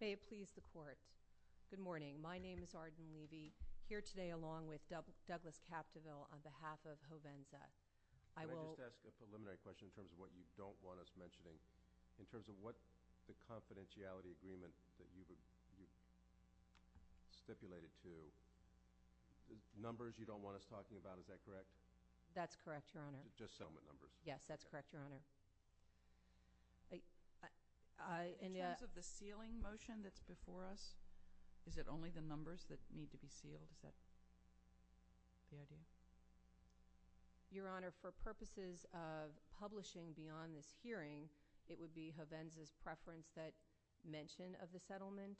May it please the court. Good morning. My name is Arden Levy. Here today along with Douglas Capdeville on behalf of Hovenza. I will. May I just ask a preliminary question in terms of what you don't want us mentioning. In terms of what the confidentiality agreement that you've stipulated to numbers you don't want us talking about, is that correct? That's correct, Your Honor. Just settlement numbers. Yes, that's correct, Your Honor. In terms of the sealing motion that's before us, is it only the numbers that need to be sealed? Is that the idea? Your Honor, for purposes of publishing beyond this hearing it would be Hovenza's preference that mention of the settlement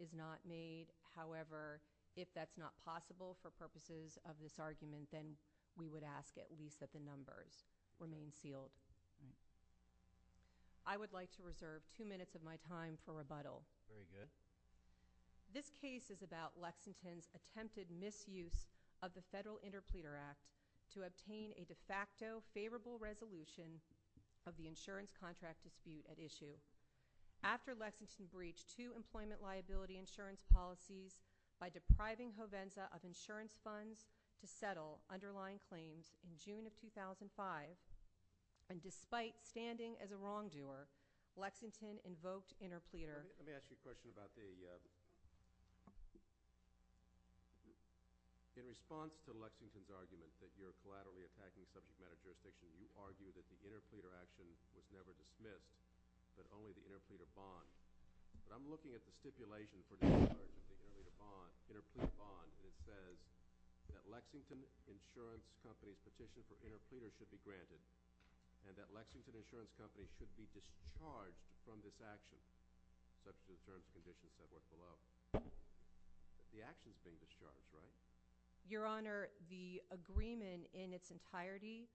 is not made. However, if that's not possible for purposes of this argument, then we would ask at least that the numbers remain sealed. I would like to reserve two minutes of my time for rebuttal. Very good. This case is about Lexington's attempted misuse of the Federal Interpleader Act to obtain a de facto favorable resolution of the insurance contract dispute at issue. After Lexington breached two employment liability insurance policies by depriving Hovenza of insurance funds to settle underlying claims in June of 2005, and despite standing as a wrongdoer, Lexington invoked interpleader. Let me ask you a question about the in response to Lexington's argument that you're collaterally attacking subject matter jurisdiction, you argue that the interpleader action was never dismissed, but only the interpleader bond. But I'm looking at the stipulation for this argument, the interpleader bond, and it says that Lexington Insurance Company's petition for interpleader should be granted, and that Lexington Insurance Company should be discharged from this action, such as the terms and conditions set forth below. The action's being discharged, right? Your Honor, the agreement in its entirety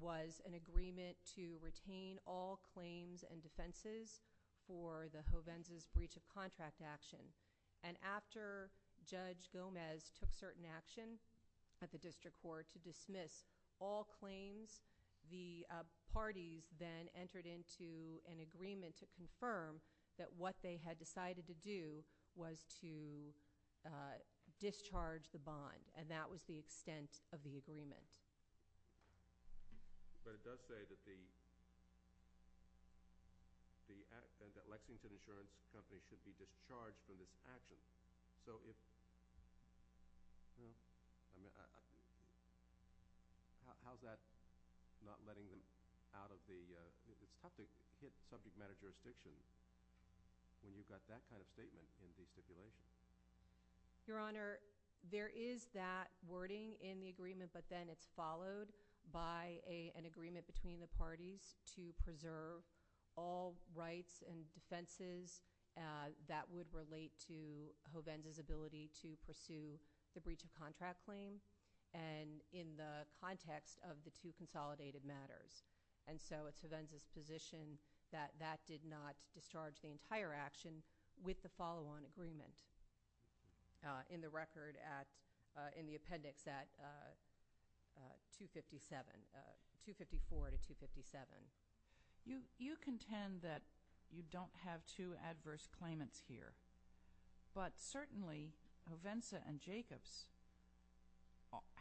was an agreement to retain all claims and defenses for the Hovenza's breach of contract action. And after Judge Gomez took certain action at the District Court to dismiss all claims, the parties then entered into an agreement to confirm that what they had decided to do was to discharge the bond, and that was the extent of the agreement. But it does say that the Lexington Insurance Company should be discharged. How's that not letting them out of the subject matter jurisdiction when you've got that kind of statement in the stipulation? Your Honor, there is that wording in the agreement, but then it's followed by an agreement between the parties to preserve all rights and defenses that would relate to Hovenza's ability to pursue the breach of contract claim, and in the context of the two consolidated matters. And so it's Hovenza's position that that did not discharge the entire action with the follow-on agreement in the appendix at 254 to 257. You contend that you don't have two adverse claimants here, but certainly Hovenza and Jacobs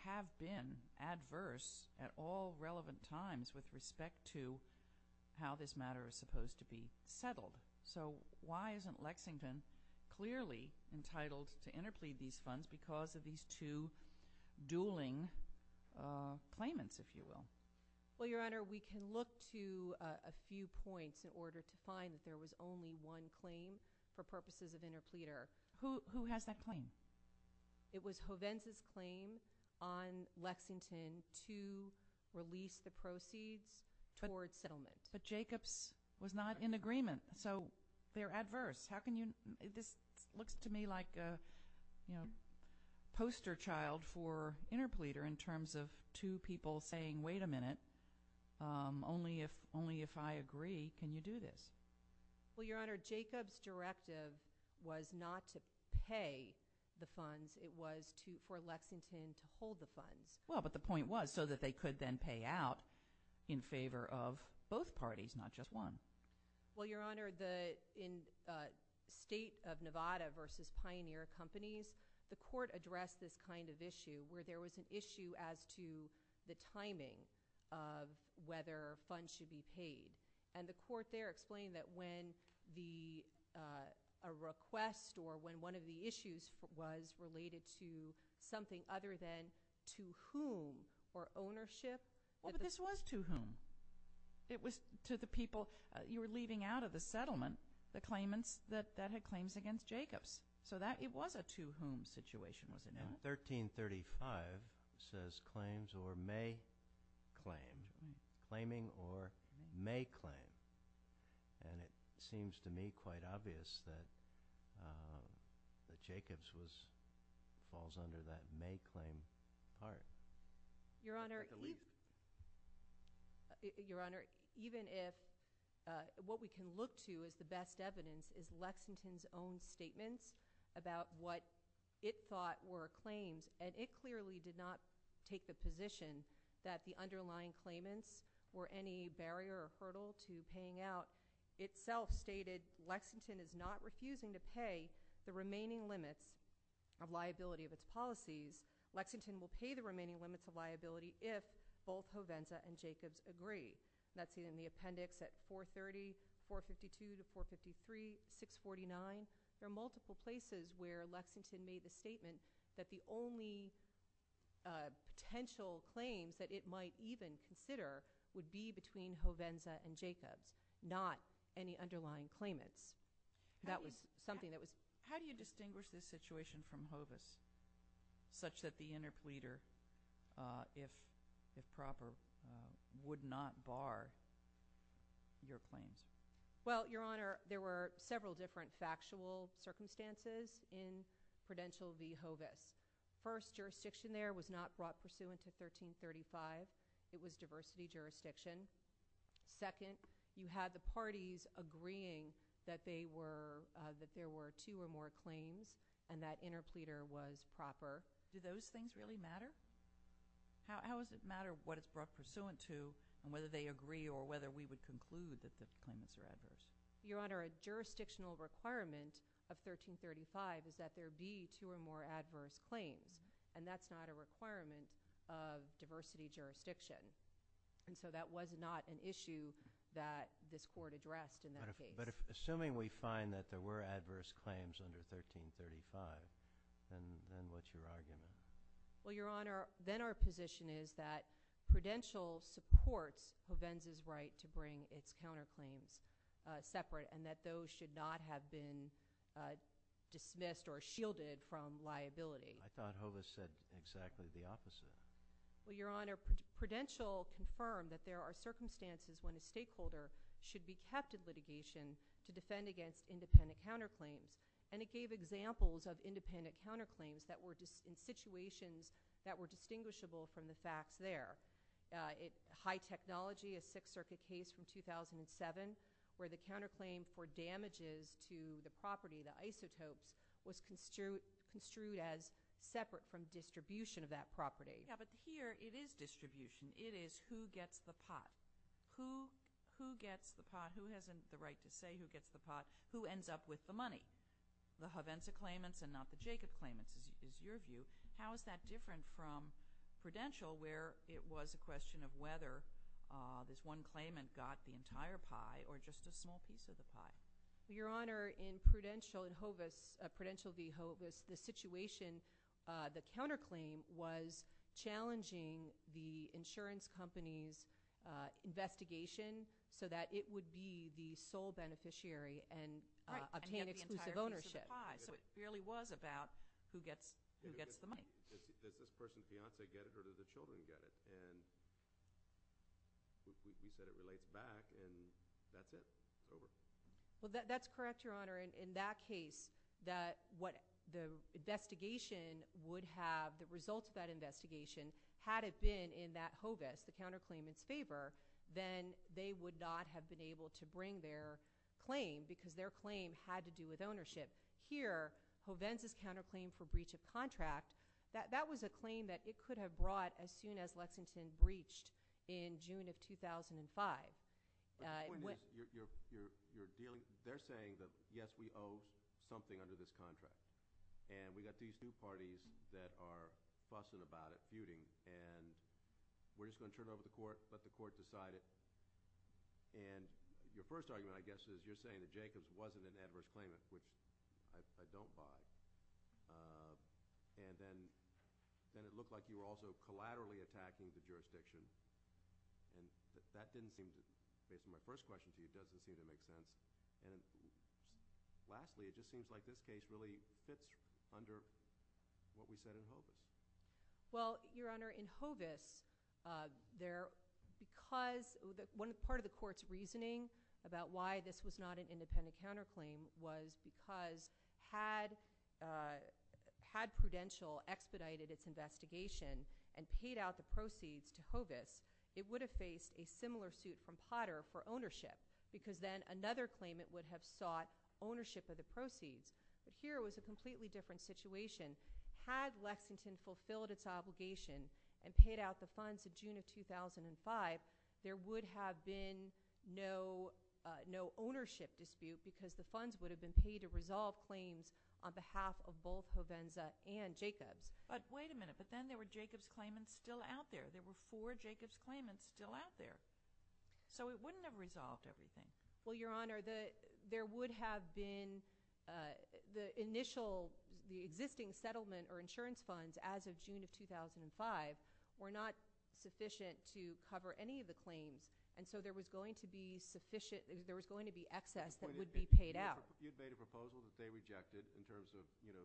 have been adverse at all relevant times with respect to how this matter is supposed to be settled. So why isn't Lexington clearly entitled to interplead these funds because of these two dueling claimants, if you will? Well, Your Honor, we can look to a few points in order to find that there was only one claim for purposes of interpleader. Who has that claim? It was Hovenza's claim on Lexington to release the proceeds towards settlement. But Jacobs was not in agreement, so they're adverse. This looks to me like a poster child for settlement. Only if I agree can you do this. Well, Your Honor, Jacobs' directive was not to pay the funds. It was for Lexington to hold the funds. Well, but the point was so that they could then pay out in favor of both parties, not just one. Well, Your Honor, in State of Nevada v. Pioneer Companies, the Court addressed this kind of issue where there was an issue as to the timing of whether funds should be paid. And the Court there explained that when a request or when one of the issues was related to something other than to whom or ownership Well, but this was to whom? It was to the people you were leaving out of the settlement, the claimants that had claims against Jacobs. So it was a to whom situation, was it not? 1335 says claims or may claim. Claiming or may claim. And it seems to me quite obvious that Jacobs falls under that may claim part. Your Honor, Your Honor, even if what we can look to as the best evidence is Lexington's own statements about what it thought were claims, and it clearly did not take the position that the underlying claimants were any barrier or hurdle to paying out, itself stated Lexington is not refusing to pay the remaining limits of liability of its policies. Lexington will pay the remaining limits of liability if both Hovenza and Jacobs agree. That's seen in the appendix at 430, 452 to 453, 649. There are multiple places where Lexington made the statement that the only potential claims that it might even consider would be between Hovenza and Jacobs, not any underlying claimants. That was something that was How do you distinguish this situation from Hovis, such that the interpleader if proper, would not bar your claims? Well, Your Honor, there were several different factual circumstances in Prudential v. Hovis. First, jurisdiction there was not brought pursuant to 1335. It was diversity jurisdiction. Second, you had the parties agreeing that they were that there were two or more claims and that interpleader was proper. Do those things really matter? How does it matter what it's brought pursuant to and whether they agree or whether we would conclude that the claimants are adverse? Your Honor, a jurisdictional requirement of 1335 is that there be two or more adverse claims and that's not a requirement of diversity jurisdiction and so that was not an issue that this Court addressed in that case. But assuming we find that there were adverse claims under 1335, then what's your argument? Well, Your Honor, then our position is that Prudential supports Hovens' right to bring its counterclaims separate and that those should not have been dismissed or shielded from liability. I thought Hovis said exactly the opposite. Well, Your Honor, Prudential confirmed that there are circumstances when a stakeholder should be kept in litigation to defend against independent counterclaims and it gave examples of independent counterclaims in situations that were distinguishable from the facts there. High Technology, a Sixth Circuit case from 2007 where the counterclaim for damages to the property, the isotopes, was construed as separate from distribution of that property. Yeah, but here it is distribution. It is who gets the pot. Who gets the pot? Who has the right to say who gets the pot? Who ends up with the money? The Hovensa claimants and not the Jacob claimants is your view. How is that different from it was a question of whether this one claimant got the entire pie or just a small piece of the pie? Your Honor, in Prudential and Hovis, Prudential v. Hovis, the situation, the counterclaim was challenging the insurance company's investigation so that it would be the sole beneficiary and obtain exclusive ownership. So it really was about who gets the money. Does this person's claim, you said it relates back, and that's it. Over. Well, that's correct, Your Honor. In that case that what the investigation would have, the results of that investigation, had it been in that Hovis, the counterclaimant's favor, then they would not have been able to bring their claim because their claim had to do with ownership. Here Hovensa's counterclaim for breach of contract, that was a claim that it could have brought as soon as Lexington breached in June of 2005. The point is, they're saying that, yes, we owe something under this contract, and we got these two parties that are fussing about it, feuding, and we're just going to turn it over to the court, let the court decide it, and your first argument, I guess, is you're saying that Jacobs wasn't an adverse claimant, which I don't buy, and then it looked like you were also collaterally attacking the jurisdiction, and that didn't seem, based on my first question to you, doesn't seem to make sense, and lastly, it just seems like this case really fits under what we said in Hovis. Well, Your Honor, in Hovis, there, because, part of the court's reasoning about why this was not an independent counterclaim was because, had Prudential expedited its investigation and paid out the proceeds to Hovis, it would have faced a similar suit from Potter for ownership, because then another claimant would have sought ownership of the proceeds, but here it was a completely different situation. Had Lexington fulfilled its obligation and paid out the funds in June of 2005, there would have been no ownership dispute, because the funds would have been paid to resolve claims on behalf of both Hovenza and Jacobs. But wait a minute, but then there were Jacobs claimants still out there. There were four Jacobs claimants still out there. So it wouldn't have resolved everything. Well, Your Honor, there would have been the initial, the existing settlement or insurance funds as of June of 2005 were not sufficient to cover any of the claims, and so there was going to be excess that would be paid out. You'd made a proposal that they rejected in terms of who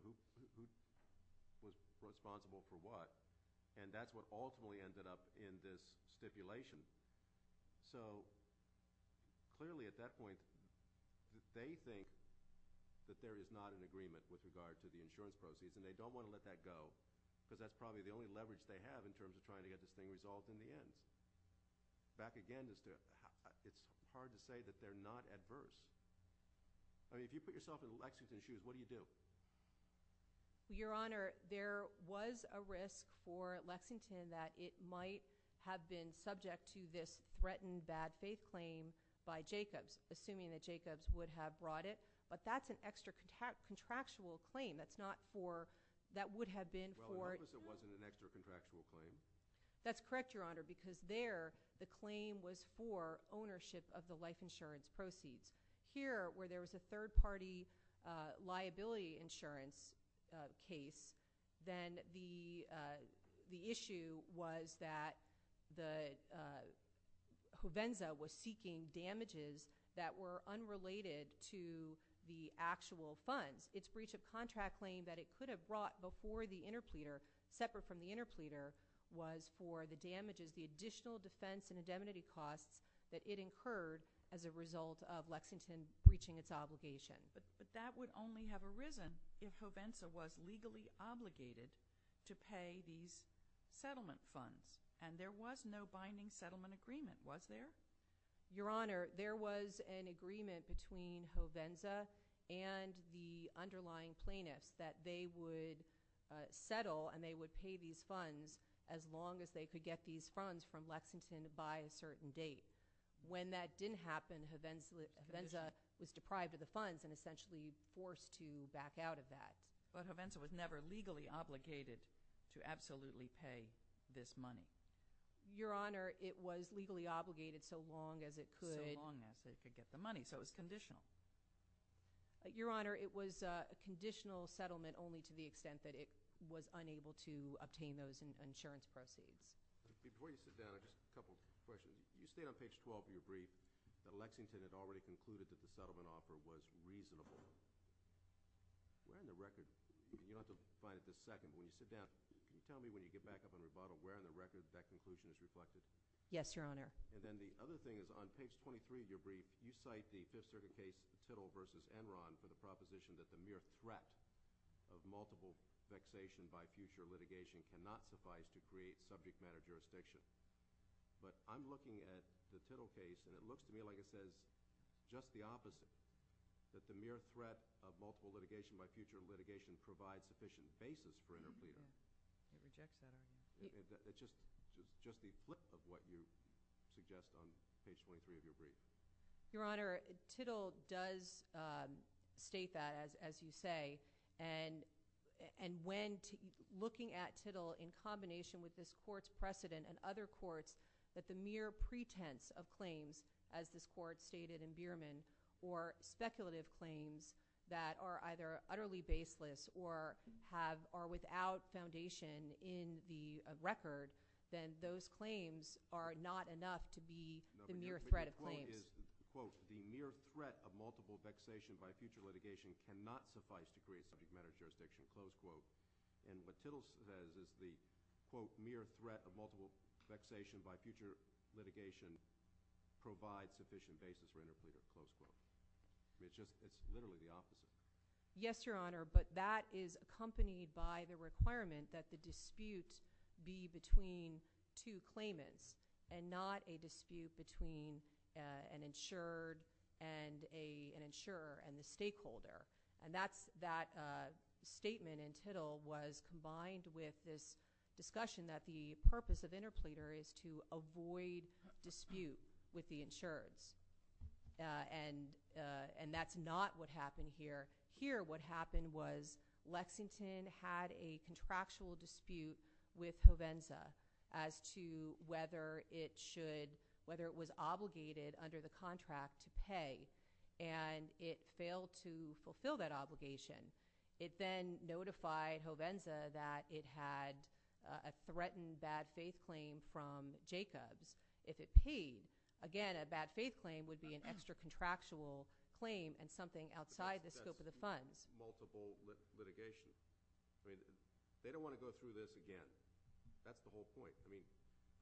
was responsible for what, and that's what ultimately ended up in this stipulation. So, clearly, at that point, they think that there is not an agreement with regard to the insurance proceeds, and they don't want to let that go, because that's probably the only leverage they have in terms of trying to get this thing resolved in the end. Back again, it's hard to say that they're not adverse. I mean, if you put yourself in Lexington's shoes, what do you do? Your Honor, there was a risk for Lexington that it might have been subject to this threatened bad faith claim by Jacobs, assuming that Jacobs would have brought it, but that's an extra contractual claim. That's not for, that would have been for— Well, I hope it wasn't an extra contractual claim. That's correct, Your Honor, because there, the claim was for ownership of the life insurance proceeds. Here, where there was a third-party liability insurance case, then the issue was that Juvenza was seeking damages that were unrelated to the actual funds. Its breach of contract claim that it could have brought before the interpleader, separate from the interpleader, was for the damages, the additional defense and indemnity costs that it incurred as a result of Lexington breaching its obligation. But that would only have arisen if Juvenza was legally obligated to pay these settlement funds, and there was no binding settlement agreement, was there? Your Honor, there was an agreement between Juvenza and the underlying plaintiffs that they would pay these funds as long as they could get these funds from Lexington by a certain date. When that didn't happen, Juvenza was deprived of the funds and essentially forced to back out of that. But Juvenza was never legally obligated to absolutely pay this money. Your Honor, it was legally obligated so long as it could— So long as they could get the money, so it was conditional. Your Honor, it was a conditional settlement only to the extent that it was unable to obtain those insurance proceeds. Before you sit down, just a couple questions. You state on page 12 of your brief that Lexington had already concluded that the settlement offer was reasonable. Where in the record—you'll have to find it in a second—but when you sit down, can you tell me when you get back up on rebuttal, where in the record that conclusion is reflected? Yes, Your Honor. And then the other thing is on page 23 of your brief, you cite the Fifth Circuit case, Tittle v. Enron, for the proposition that the mere threat of multiple vexation by future litigation cannot suffice to create subject matter jurisdiction. But I'm looking at the Tittle case, and it looks to me like it says just the opposite, that the mere threat of multiple litigation by future litigation provides sufficient basis for interplea. It rejects that argument. It's just the flip of what you suggest on page 23 of your brief. Your Honor, Tittle does state that, as you say. Looking at Tittle in combination with this Court's precedent and other courts, that the mere pretense of claims, as this Court stated in Bierman, or speculative claims that are either utterly baseless or without foundation in the record, then those claims are not enough to be the mere threat of claims. Tittle is, quote, the mere threat of multiple vexation by future litigation cannot suffice to create subject matter jurisdiction, close quote. And what Tittle says is the, quote, mere threat of multiple vexation by future litigation provides sufficient basis for interplea, close quote. It's literally the opposite. Yes, Your Honor, but that is accompanied by the requirement that the dispute be between two claimants and not a dispute between an insured and an insurer and the stakeholder. And that statement in Tittle was combined with this discussion that the purpose of interpleader is to avoid dispute with the insureds. And that's not what happened here. Here what happened was Lexington had a contractual dispute with Hovenza as to whether it should, whether it was obligated under the contract to pay. And it failed to fulfill that obligation. It then notified Hovenza that it had a threatened bad faith claim from Jacobs. If it paid, again, a bad faith claim would be an extra contractual claim and something outside the scope of the funds. Multiple litigation. I mean, they don't want to go through this again. That's the whole point. I mean,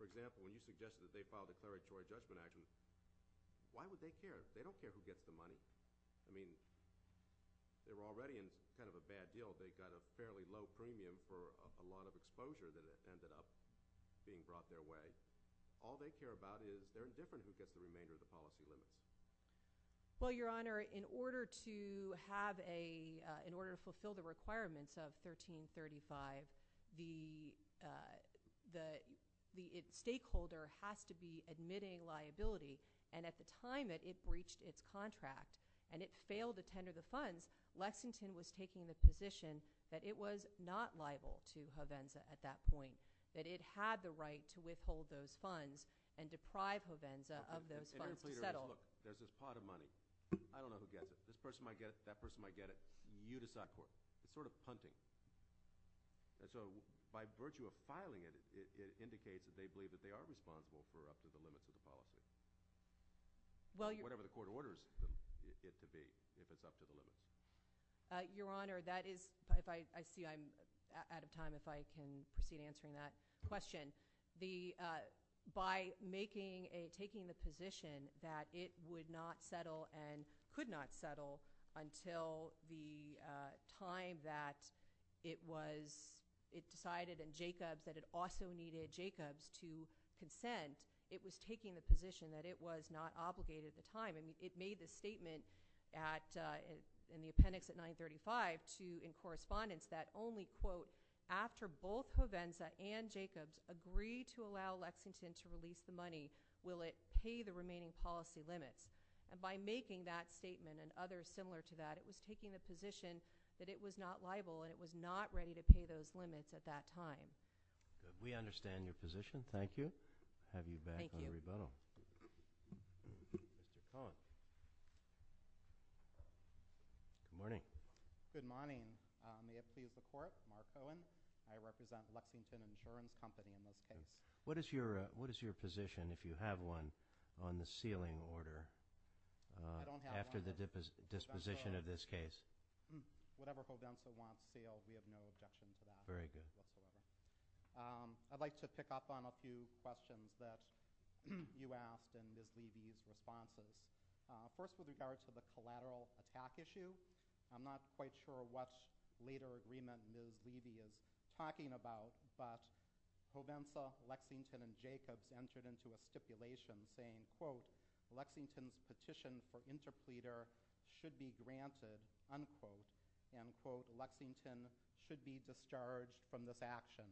for example, when you suggested that they file declaratory judgment actions, why would they care? They don't care who gets the money. I mean, they were already in kind of a bad deal. They got a fairly low premium for a lot of exposure that ended up being brought their way. All they care about is they're indifferent who gets the remainder of the policy limits. Well, Your Honor, in order to have a, in order to fulfill the requirements of 1335, the stakeholder has to be admitting liability. And at the time that it breached its contract and it failed to tender the funds, Lexington was taking the position that it was not liable to Hovenza at that point. That it had the right to withhold those funds and deprive Hovenza of those funds to settle. I don't know who gets it. This person might get it. That person might get it. You decide. It's sort of punting. So, by virtue of filing it, it indicates that they believe that they are responsible for up to the limits of the policy. Whatever the court orders it to be, if it's up to the limits. Your Honor, that is, I see I'm out of time. If I can proceed answering that question. By making a, taking the position that it would not settle and could not settle until the time that it was, it decided in Jacobs that it also needed Jacobs to consent, it was taking the position that it was not obligated at the time. It made this statement in the appendix at 935 to, in correspondence, that only quote, after both Hovenza and Jacobs agree to allow Lexington to release the money, will it pay the remaining policy limits? And by making that statement and others similar to that, it was taking the position that it was not liable and it was not ready to pay those limits at that time. Good. We understand your position. Thank you. Have you back on rebuttal. Thank you. Mr. Cohen. Good morning. Good morning. May it please the Court, Mark Cohen. I represent Lexington Insurance Company in this case. What is your position, if you have one, on the sealing order after the disposition of this case? Whatever Hovenza wants sealed, we have no objection to that. Very good. I'd like to pick up on a few questions that you asked and Ms. Levy's responses. First, with regard to the collateral attack issue, I'm not quite sure what later agreement Ms. Levy is entering into a stipulation saying, quote, Lexington's petition for interpleader should be granted, unquote, and, quote, Lexington should be discharged from this action,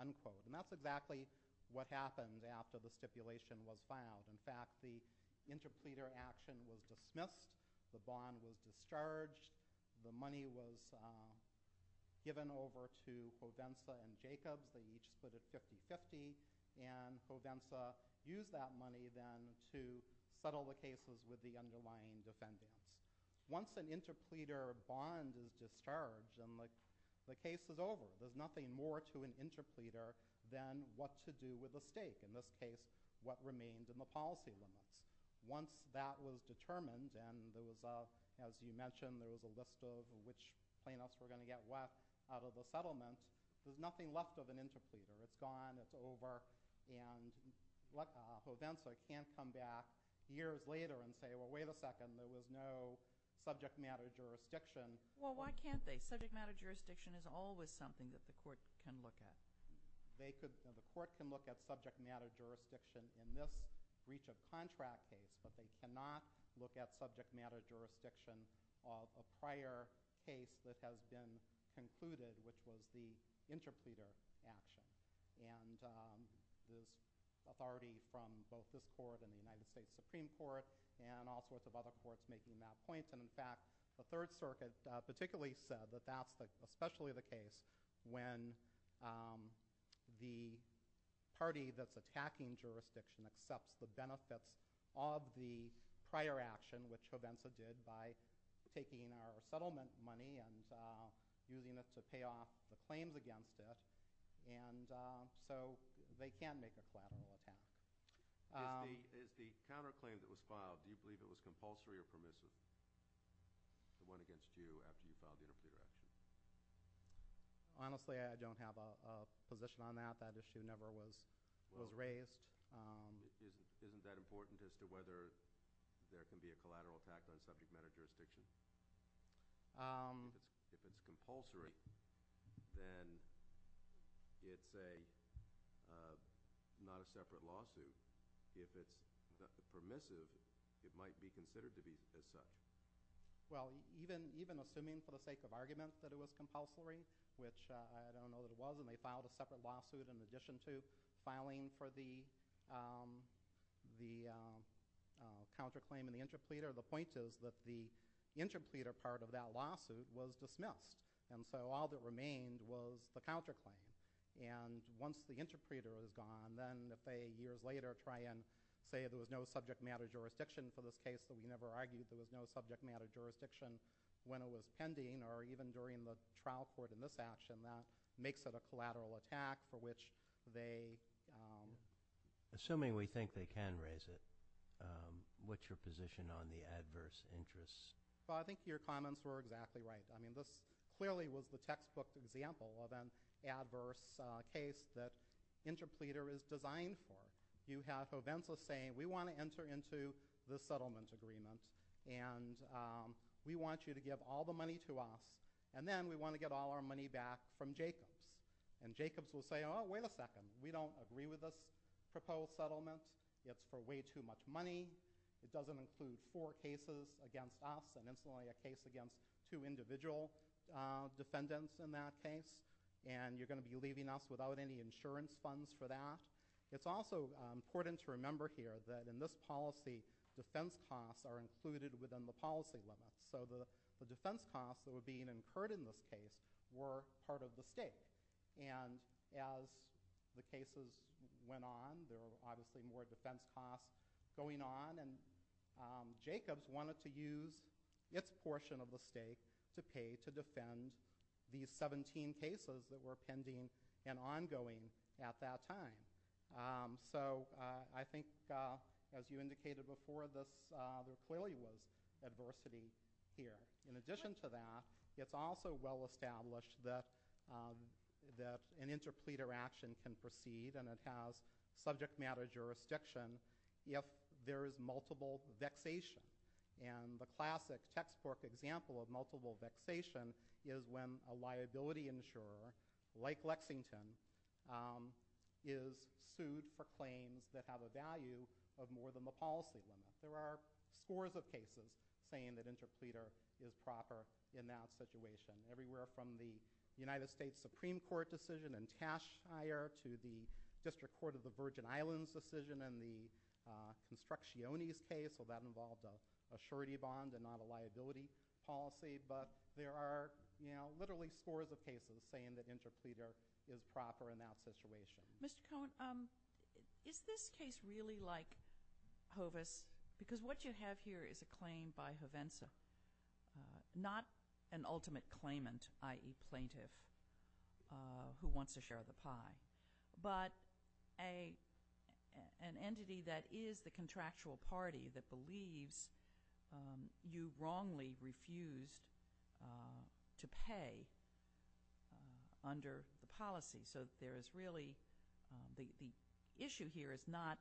unquote. And that's exactly what happened after the stipulation was filed. In fact, the interpleader action was dismissed, the bond was discharged, the money was given over to Hovenza and Jacobs. They each split it 50-50, and Hovenza used that money then to settle the cases with the underlying defendants. Once an interpleader bond is discharged, then the case is over. There's nothing more to an interpleader than what to do with the stake, in this case, what remained in the policy limits. Once that was determined, and as you mentioned, there was a list of which plaintiffs were going to get what out of the settlement, there's nothing left of an interpleader. It's gone, it's over, and Hovenza can't come back years later and say, well, wait a second, there was no subject matter jurisdiction. Well, why can't they? Subject matter jurisdiction is always something that the court can look at. The court can look at subject matter jurisdiction in this breach of contract case, but they cannot look at subject matter jurisdiction of a prior case that has been concluded, which was the interpleader action. There's authority from both this court and the United States Supreme Court, and all sorts of other courts making that point. In fact, the Third Circuit particularly said that that's especially the case when the party that's attacking jurisdiction accepts the benefits of the prior action, which Hovenza did by taking our settlement money and using it to pay off the claims against it, and so they can't make a collateral attack. Is the counterclaim that was filed, do you believe it was compulsory or permissive, the one against you after you filed the interpleader action? Honestly, I don't have a position on that. That issue never was raised. Isn't that important as to whether there can be a collateral attack on subject matter jurisdiction? If it's compulsory, then it's not a separate lawsuit. If it's permissive, it might be considered to be as such. Well, even assuming for the sake of argument that it was compulsory, which I don't know that it was, and they filed a separate lawsuit in addition to filing for the counterclaim and the interpleader, the point is that the interpleader part of that lawsuit was dismissed, and so all that remained was the counterclaim. Once the interpleader is gone, then if they years later try and say there was no subject matter jurisdiction for this case, we never argued there was no subject matter jurisdiction when it was pending or even during the trial court in this action, that makes it a collateral attack for which they can't raise it. Assuming we think they can raise it, what's your position on the adverse interests? I think your comments were exactly right. This clearly was the textbook example of an adverse case that interpleader is designed for. You have Coventa saying we want to enter into the settlement agreement, and we want you to give all the money to us, and then we want to get all our money back from Jacobs. And Jacobs will say, oh, wait a second, we don't agree with this proposed settlement. It's for way too much money. It doesn't include four cases against us, and it's only a case against two individual defendants in that case, and you're going to be leaving us without any insurance funds for that. It's also important to remember here that in this policy, defense costs are included within the policy limits, so the defense costs that were being incurred in this case were part of the stake. And as the cases went on, there were obviously more defense costs going on, and Jacobs wanted to use its portion of the stake to pay to defend these 17 cases that were pending and ongoing at that time. So I think, as you indicated before, there clearly was adversity here. In addition to that, it's also well established that an interpleader action can proceed, and it has subject matter jurisdiction if there is multiple vexation. And the classic textbook example of multiple vexation is when a liability insurer, like Lexington, is sued for claims that have a value of more than the policy limit. There are scores of cases saying that interpleader is proper in that situation. Everywhere from the United States Supreme Court decision in Tashire to the District Court of the Virgin Islands decision in the Construcciones case, so that involved a surety bond and not a liability policy, but there are literally scores of cases saying that interpleader is proper in that situation. Mr. Cohen, is this case really like Hovis? Because what you have here is a claim by Hovenza, not an ultimate claimant, i.e. plaintiff, who wants a share of the pie, but an entity that is the contractual party that believes you wrongly refused to pay under the policy. So there is really, the issue here is not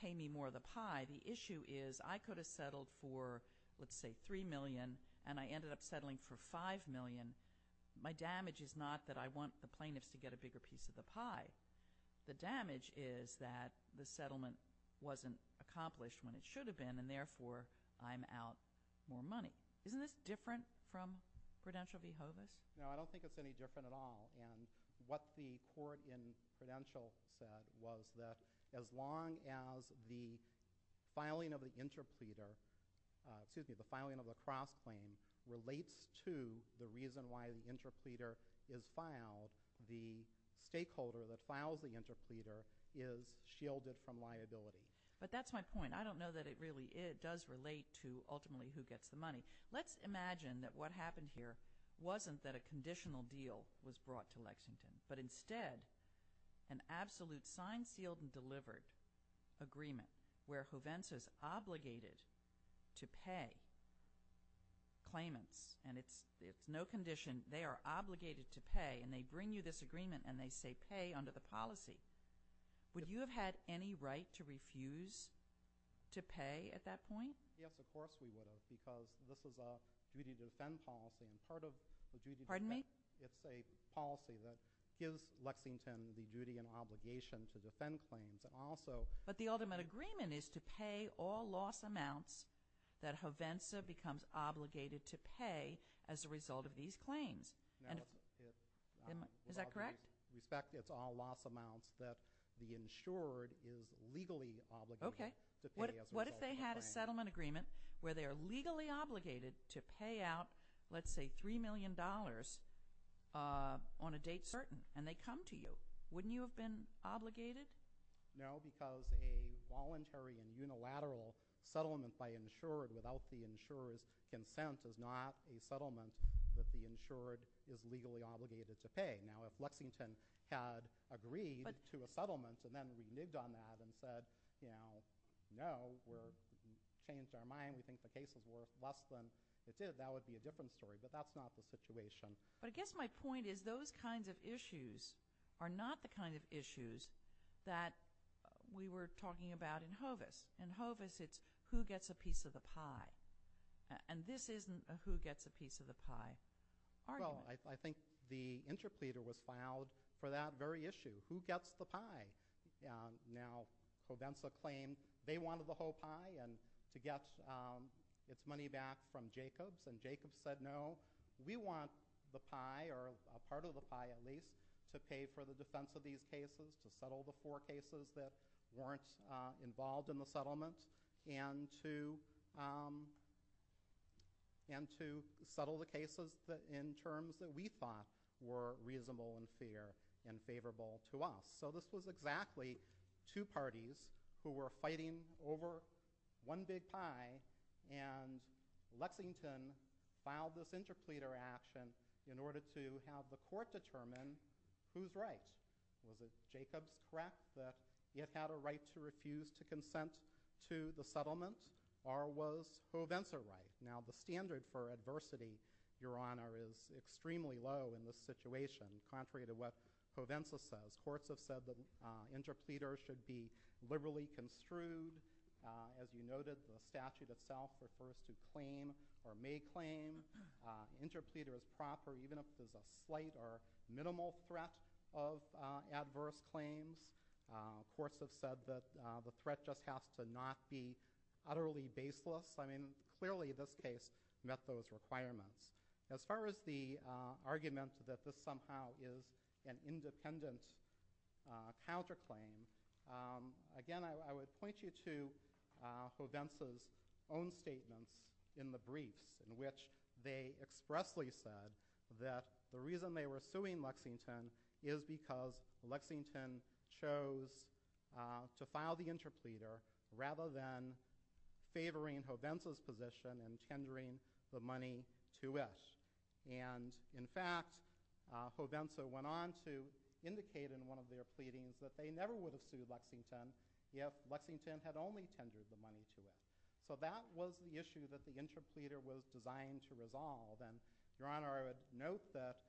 pay me more of the pie. The issue is I could have settled for let's say $3 million, and I ended up settling for $5 million. My damage is not that I want the plaintiffs to get a bigger piece of the pie. The damage is that the settlement wasn't accomplished when it should have been, and therefore I'm out more money. Isn't this different from Prudential v. Hovis? No, I don't think it's any different at all. And what the court in Prudential said was that as long as the filing of the cross-claim relates to the reason why the interpleader is filed, the stakeholder that files the interpleader is shielded from liability. But that's my point. I don't know that it really does relate to ultimately who gets the money. Let's imagine that what happened here wasn't that a conditional deal was brought to Lexington, but instead an absolute signed, sealed, and delivered agreement where Hovens is obligated to pay claimants, and it's no condition. They are obligated to pay, and they bring you this agreement, and they say pay under the policy. Would you have had any right to refuse to pay at that point? Yes, of course we would have, because this is a duty to defend policy, and part of the duty to defend policy. It's a policy that gives Lexington the duty and obligation to defend claims. But the ultimate agreement is to pay all loss amounts that Hovensa becomes obligated to pay as a result of these claims. Is that correct? With all due respect, it's all loss amounts that the insured is legally obligated to pay as a result of the claim. What if they had a settlement agreement where they are legally obligated to pay out let's say $3 million on a date certain, and they come to you. Wouldn't you have been obligated? No, because a voluntary and unilateral settlement by insured without the insurer's consent is not a settlement that the insured is legally obligated to pay. Now if Lexington had agreed to a settlement, and then we nigged on that and said no, we've changed our mind. We think the case is worth less than it is. That would be a different story, but that's not the situation. But I guess my point is those kinds of issues are not the kind of issues that we were talking about in Hovis. In Hovis it's who gets a piece of the pie, and this isn't a who gets a piece of the pie argument. Well, I think the interpleader was fouled for that very issue. Who gets the pie? Now Hovensa claimed they wanted the whole pie, and to get its money back from Jacobs, and Jacobs said no. We want the pie, or a part of the pie at least, to pay for the defense of these cases, to settle the four cases that weren't involved in the settlement, and to settle the cases in terms that we thought were reasonable and fair and favorable to us. So this was exactly two parties who were getting a piece of the pie, and Lexington filed this interpleader action in order to have the court determine who's right. Was it Jacobs, correct, that it had a right to refuse to consent to the settlement, or was Hovensa right? Now the standard for adversity, Your Honor, is extremely low in this situation, contrary to what Hovensa says. Courts have said that interpleaders should be liberally construed. As you noted, the statute itself refers to claim or may claim. Interpleader is proper even if there's a slight or minimal threat of adverse claims. Courts have said that the threat just has to not be utterly baseless. I mean, clearly this case met those requirements. As far as the argument that this somehow is an independent counter claim, again I would point you to Hovensa's own statements in the briefs in which they expressly said that the reason they were suing Lexington is because Lexington chose to file the interpleader rather than favoring Hovensa's position and tendering the money to it. In fact, Hovensa went on to indicate in one of their pleadings that they never would have sued Lexington if Lexington had only tendered the money to it. So that was the issue that the interpleader was designed to resolve. Your Honor, I would note that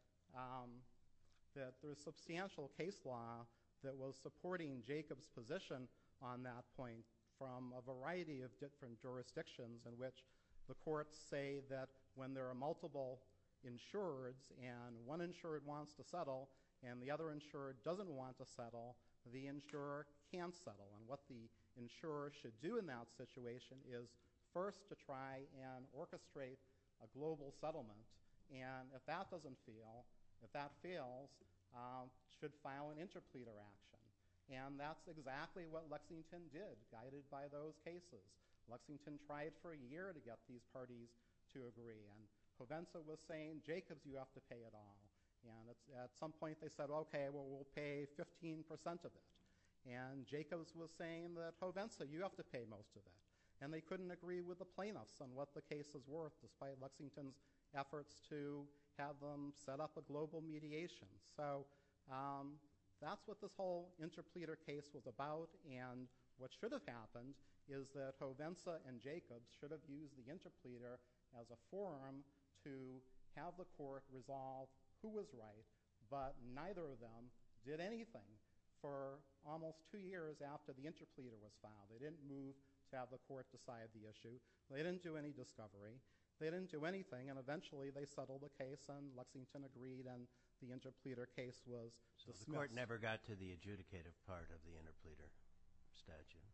there's substantial case law that was supporting Jacob's position on that point from a variety of different jurisdictions in which the courts say that when there are multiple insureds and one insured wants to settle, the insurer can't settle. And what the insurer should do in that situation is first to try and orchestrate a global settlement. And if that doesn't feel, if that fails, should file an interpleader action. And that's exactly what Lexington did, guided by those cases. Lexington tried for a year to get these parties to agree. And Hovensa was saying, Jacob, you have to pay it all. And at some point they said, okay, well we'll pay 15% of it. And Jacob was saying that Hovensa, you have to pay most of it. And they couldn't agree with the plaintiffs on what the case was worth despite Lexington's efforts to have them set up a global mediation. So that's what this whole interpleader case was about. And what should have happened is that Hovensa and Jacob should have used the interpleader as a forum to have the court resolve who was right, but neither of them did anything for almost two years after the interpleader was filed. They didn't move to have the court decide the issue. They didn't do any discovery. They didn't do anything. And eventually they settled the case and Lexington agreed and the interpleader case was dismissed. So the court never got to the adjudicative part of the interpleader statute?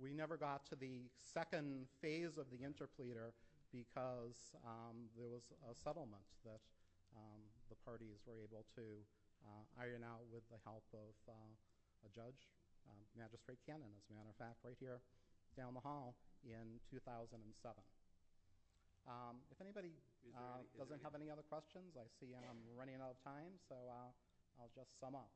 We never got to the second phase of the interpleader because there was a settlement that the parties were able to iron out with the help of a judge, Magistrate Cannon, as a matter of fact, right here down the hall in 2007. If anybody doesn't have any other questions, I see I'm running out of time so I'll just sum up.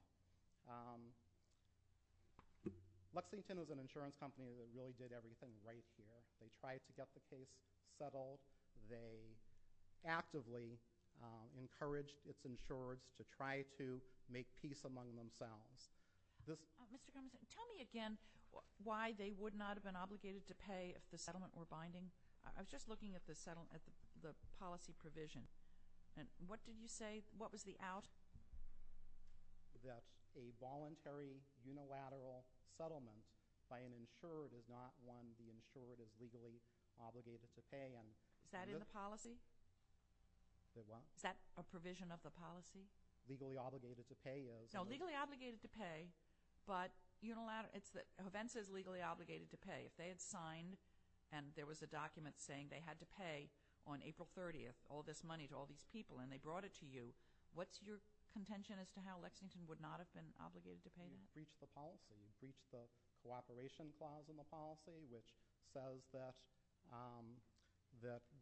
Lexington was an insurance company that really did everything right here. They tried to get the case settled. They actively encouraged its insurers to try to make peace among themselves. Tell me again why they would not have been obligated to pay if the settlement were binding? I was just looking at the policy provision. What did you say? What was the out? That a voluntary unilateral settlement by an insured is legally obligated to pay? Is that in the policy? Is that a provision of the policy? Legally obligated to pay is? No, legally obligated to pay but it's that Hovensa is legally obligated to pay. If they had signed and there was a document saying they had to pay on April 30th all this money to all these people and they brought it to you, what's your contention as to how Lexington would not have been obligated to pay that? You breached the policy. You breached the policy that says that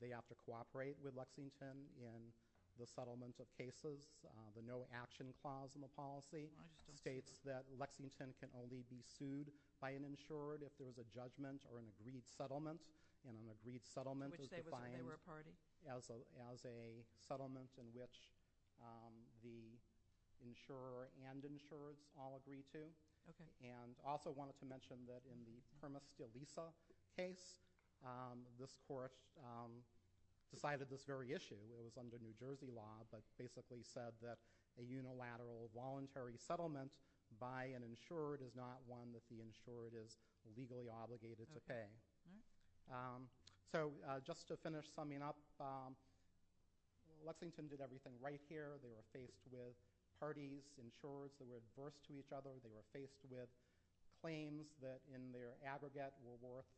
they have to cooperate with Lexington in the settlement of cases. The no action clause in the policy states that Lexington can only be sued by an insured if there was a judgment or an agreed settlement and an agreed settlement is defined as a settlement in which the insurer and insureds all agree to. Also wanted to mention that in the Permis de Lisa case, this court decided this very issue. It was under New Jersey law but basically said that a unilateral voluntary settlement by an insured is not one that the insured is legally obligated to pay. Just to finish summing up, Lexington did everything right here. They were faced with parties, insurers that were adverse to each other. They were in their aggregate were worth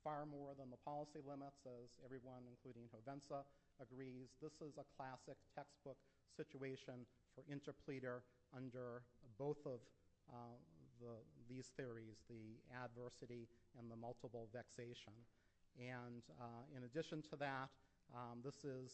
far more than the policy limits as everyone including Provenza agrees. This is a classic textbook situation for interpleader under both of these theories, the adversity and the multiple vexation. In addition to that, this is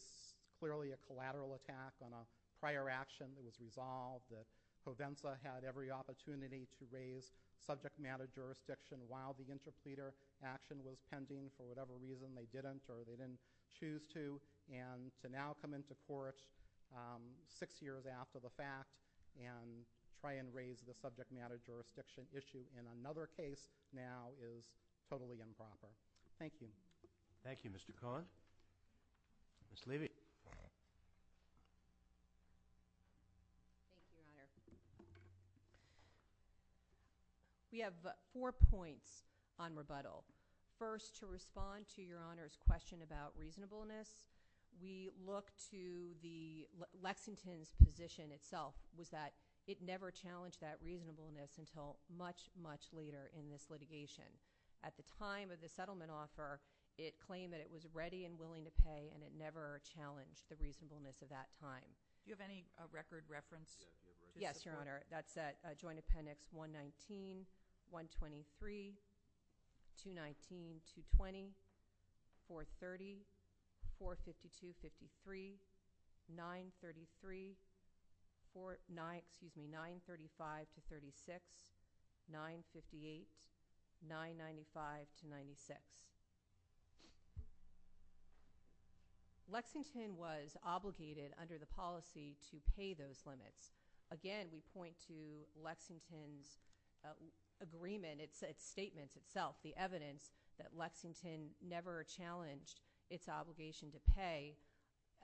clearly a collateral attack on a prior action that was resolved that Provenza had every opportunity to raise subject matter jurisdiction while the interpleader action was pending for whatever reason they didn't or they didn't choose to and to now come into court six years after the fact and try and raise the subject matter jurisdiction issue in another case now is totally improper. Thank you. Thank you Mr. Cohen. Ms. Levy. Thank you Your Honor. We have four points on rebuttal. First to respond to Your Honor's question about reasonableness, we look to the Lexington's position itself was that it never challenged that reasonableness until much, much later in this litigation. At the time of the settlement offer, it claimed that it was ready and willing to pay and it never challenged the reasonableness of that time. Do you have any record reference? Yes, Your Honor. That's at joint appendix 119, 123, 219, 220, 430, 452, 53, 933, 935 to 36, 958, 995 to 96. Lexington was obligated under the policy to pay those limits. Again, we point to Lexington's agreement, its statements itself, the evidence that Lexington never challenged its obligation to pay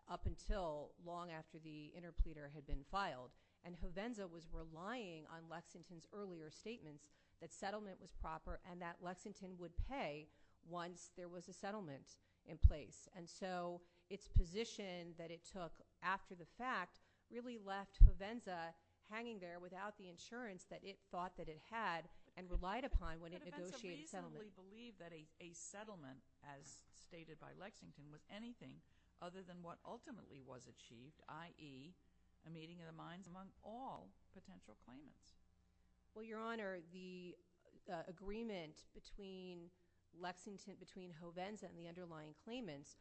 up until long after the interpleader had been filed and Hovenza was relying on Lexington's earlier statements that settlement was proper and that Lexington would pay once there was a settlement in place. Its position that it took after the fact really left Hovenza hanging there without the insurance that it thought that it had and relied upon when it negotiated settlement. Hovenza reasonably believed that a settlement, as stated by Lexington, was anything other than what ultimately was achieved, i.e., a meeting of the minds among all potential claimants. Well, Your Honor, the agreement between Lexington, between Hovenza and the underlying claimants,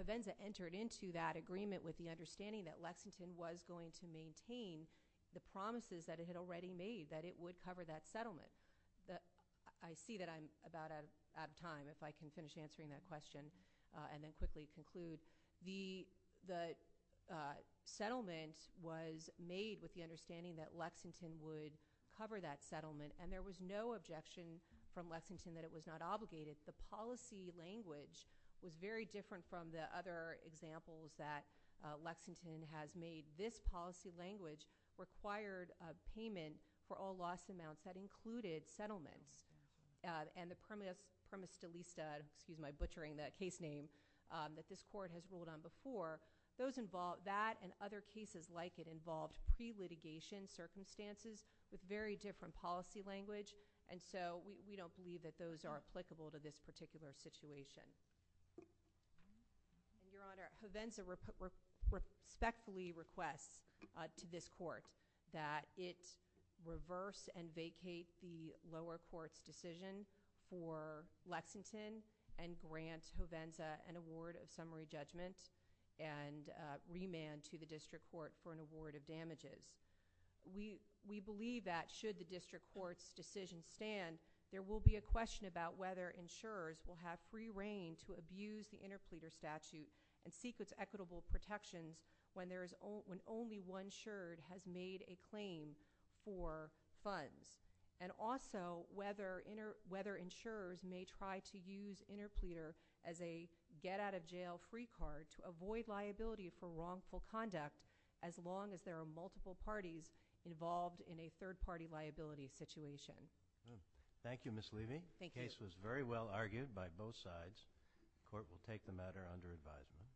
Hovenza entered into that agreement with the understanding that Lexington was going to maintain the promises that it had already made, that it would cover that settlement. I see that I'm about out of time. If I can finish answering that question and then quickly conclude. The settlement was made with the understanding that Lexington would cover that settlement and there was no objection from Lexington that it was not obligated. The policy language was very different from the other examples that Lexington has made. This policy language required payment for all loss amounts that included settlements and the premise delista, excuse my butchering the case name, that this Court has ruled on before, that and other cases like it involved pre-litigation circumstances with very different policy language, and so we don't believe that those are applicable to this particular situation. Your Honor, Hovenza respectfully requests to this Court that it reverse and vacate the lower court's decision for Lexington and grant Hovenza an award of summary judgment and remand to the District Court for an award of damages. We believe that should the District Court's decision stand, there will be a question about whether insurers will have free reign to abuse the interpleader statute and seek its equitable protections when only one insured has made a claim for funds, and also whether insurers may try to use interpleader as a get out of jail free card to avoid liability for wrongful conduct as long as there are multiple parties involved in a third party liability situation. Thank you, Ms. Levy. The case was very well argued by both sides. The Court will take the matter under advisement.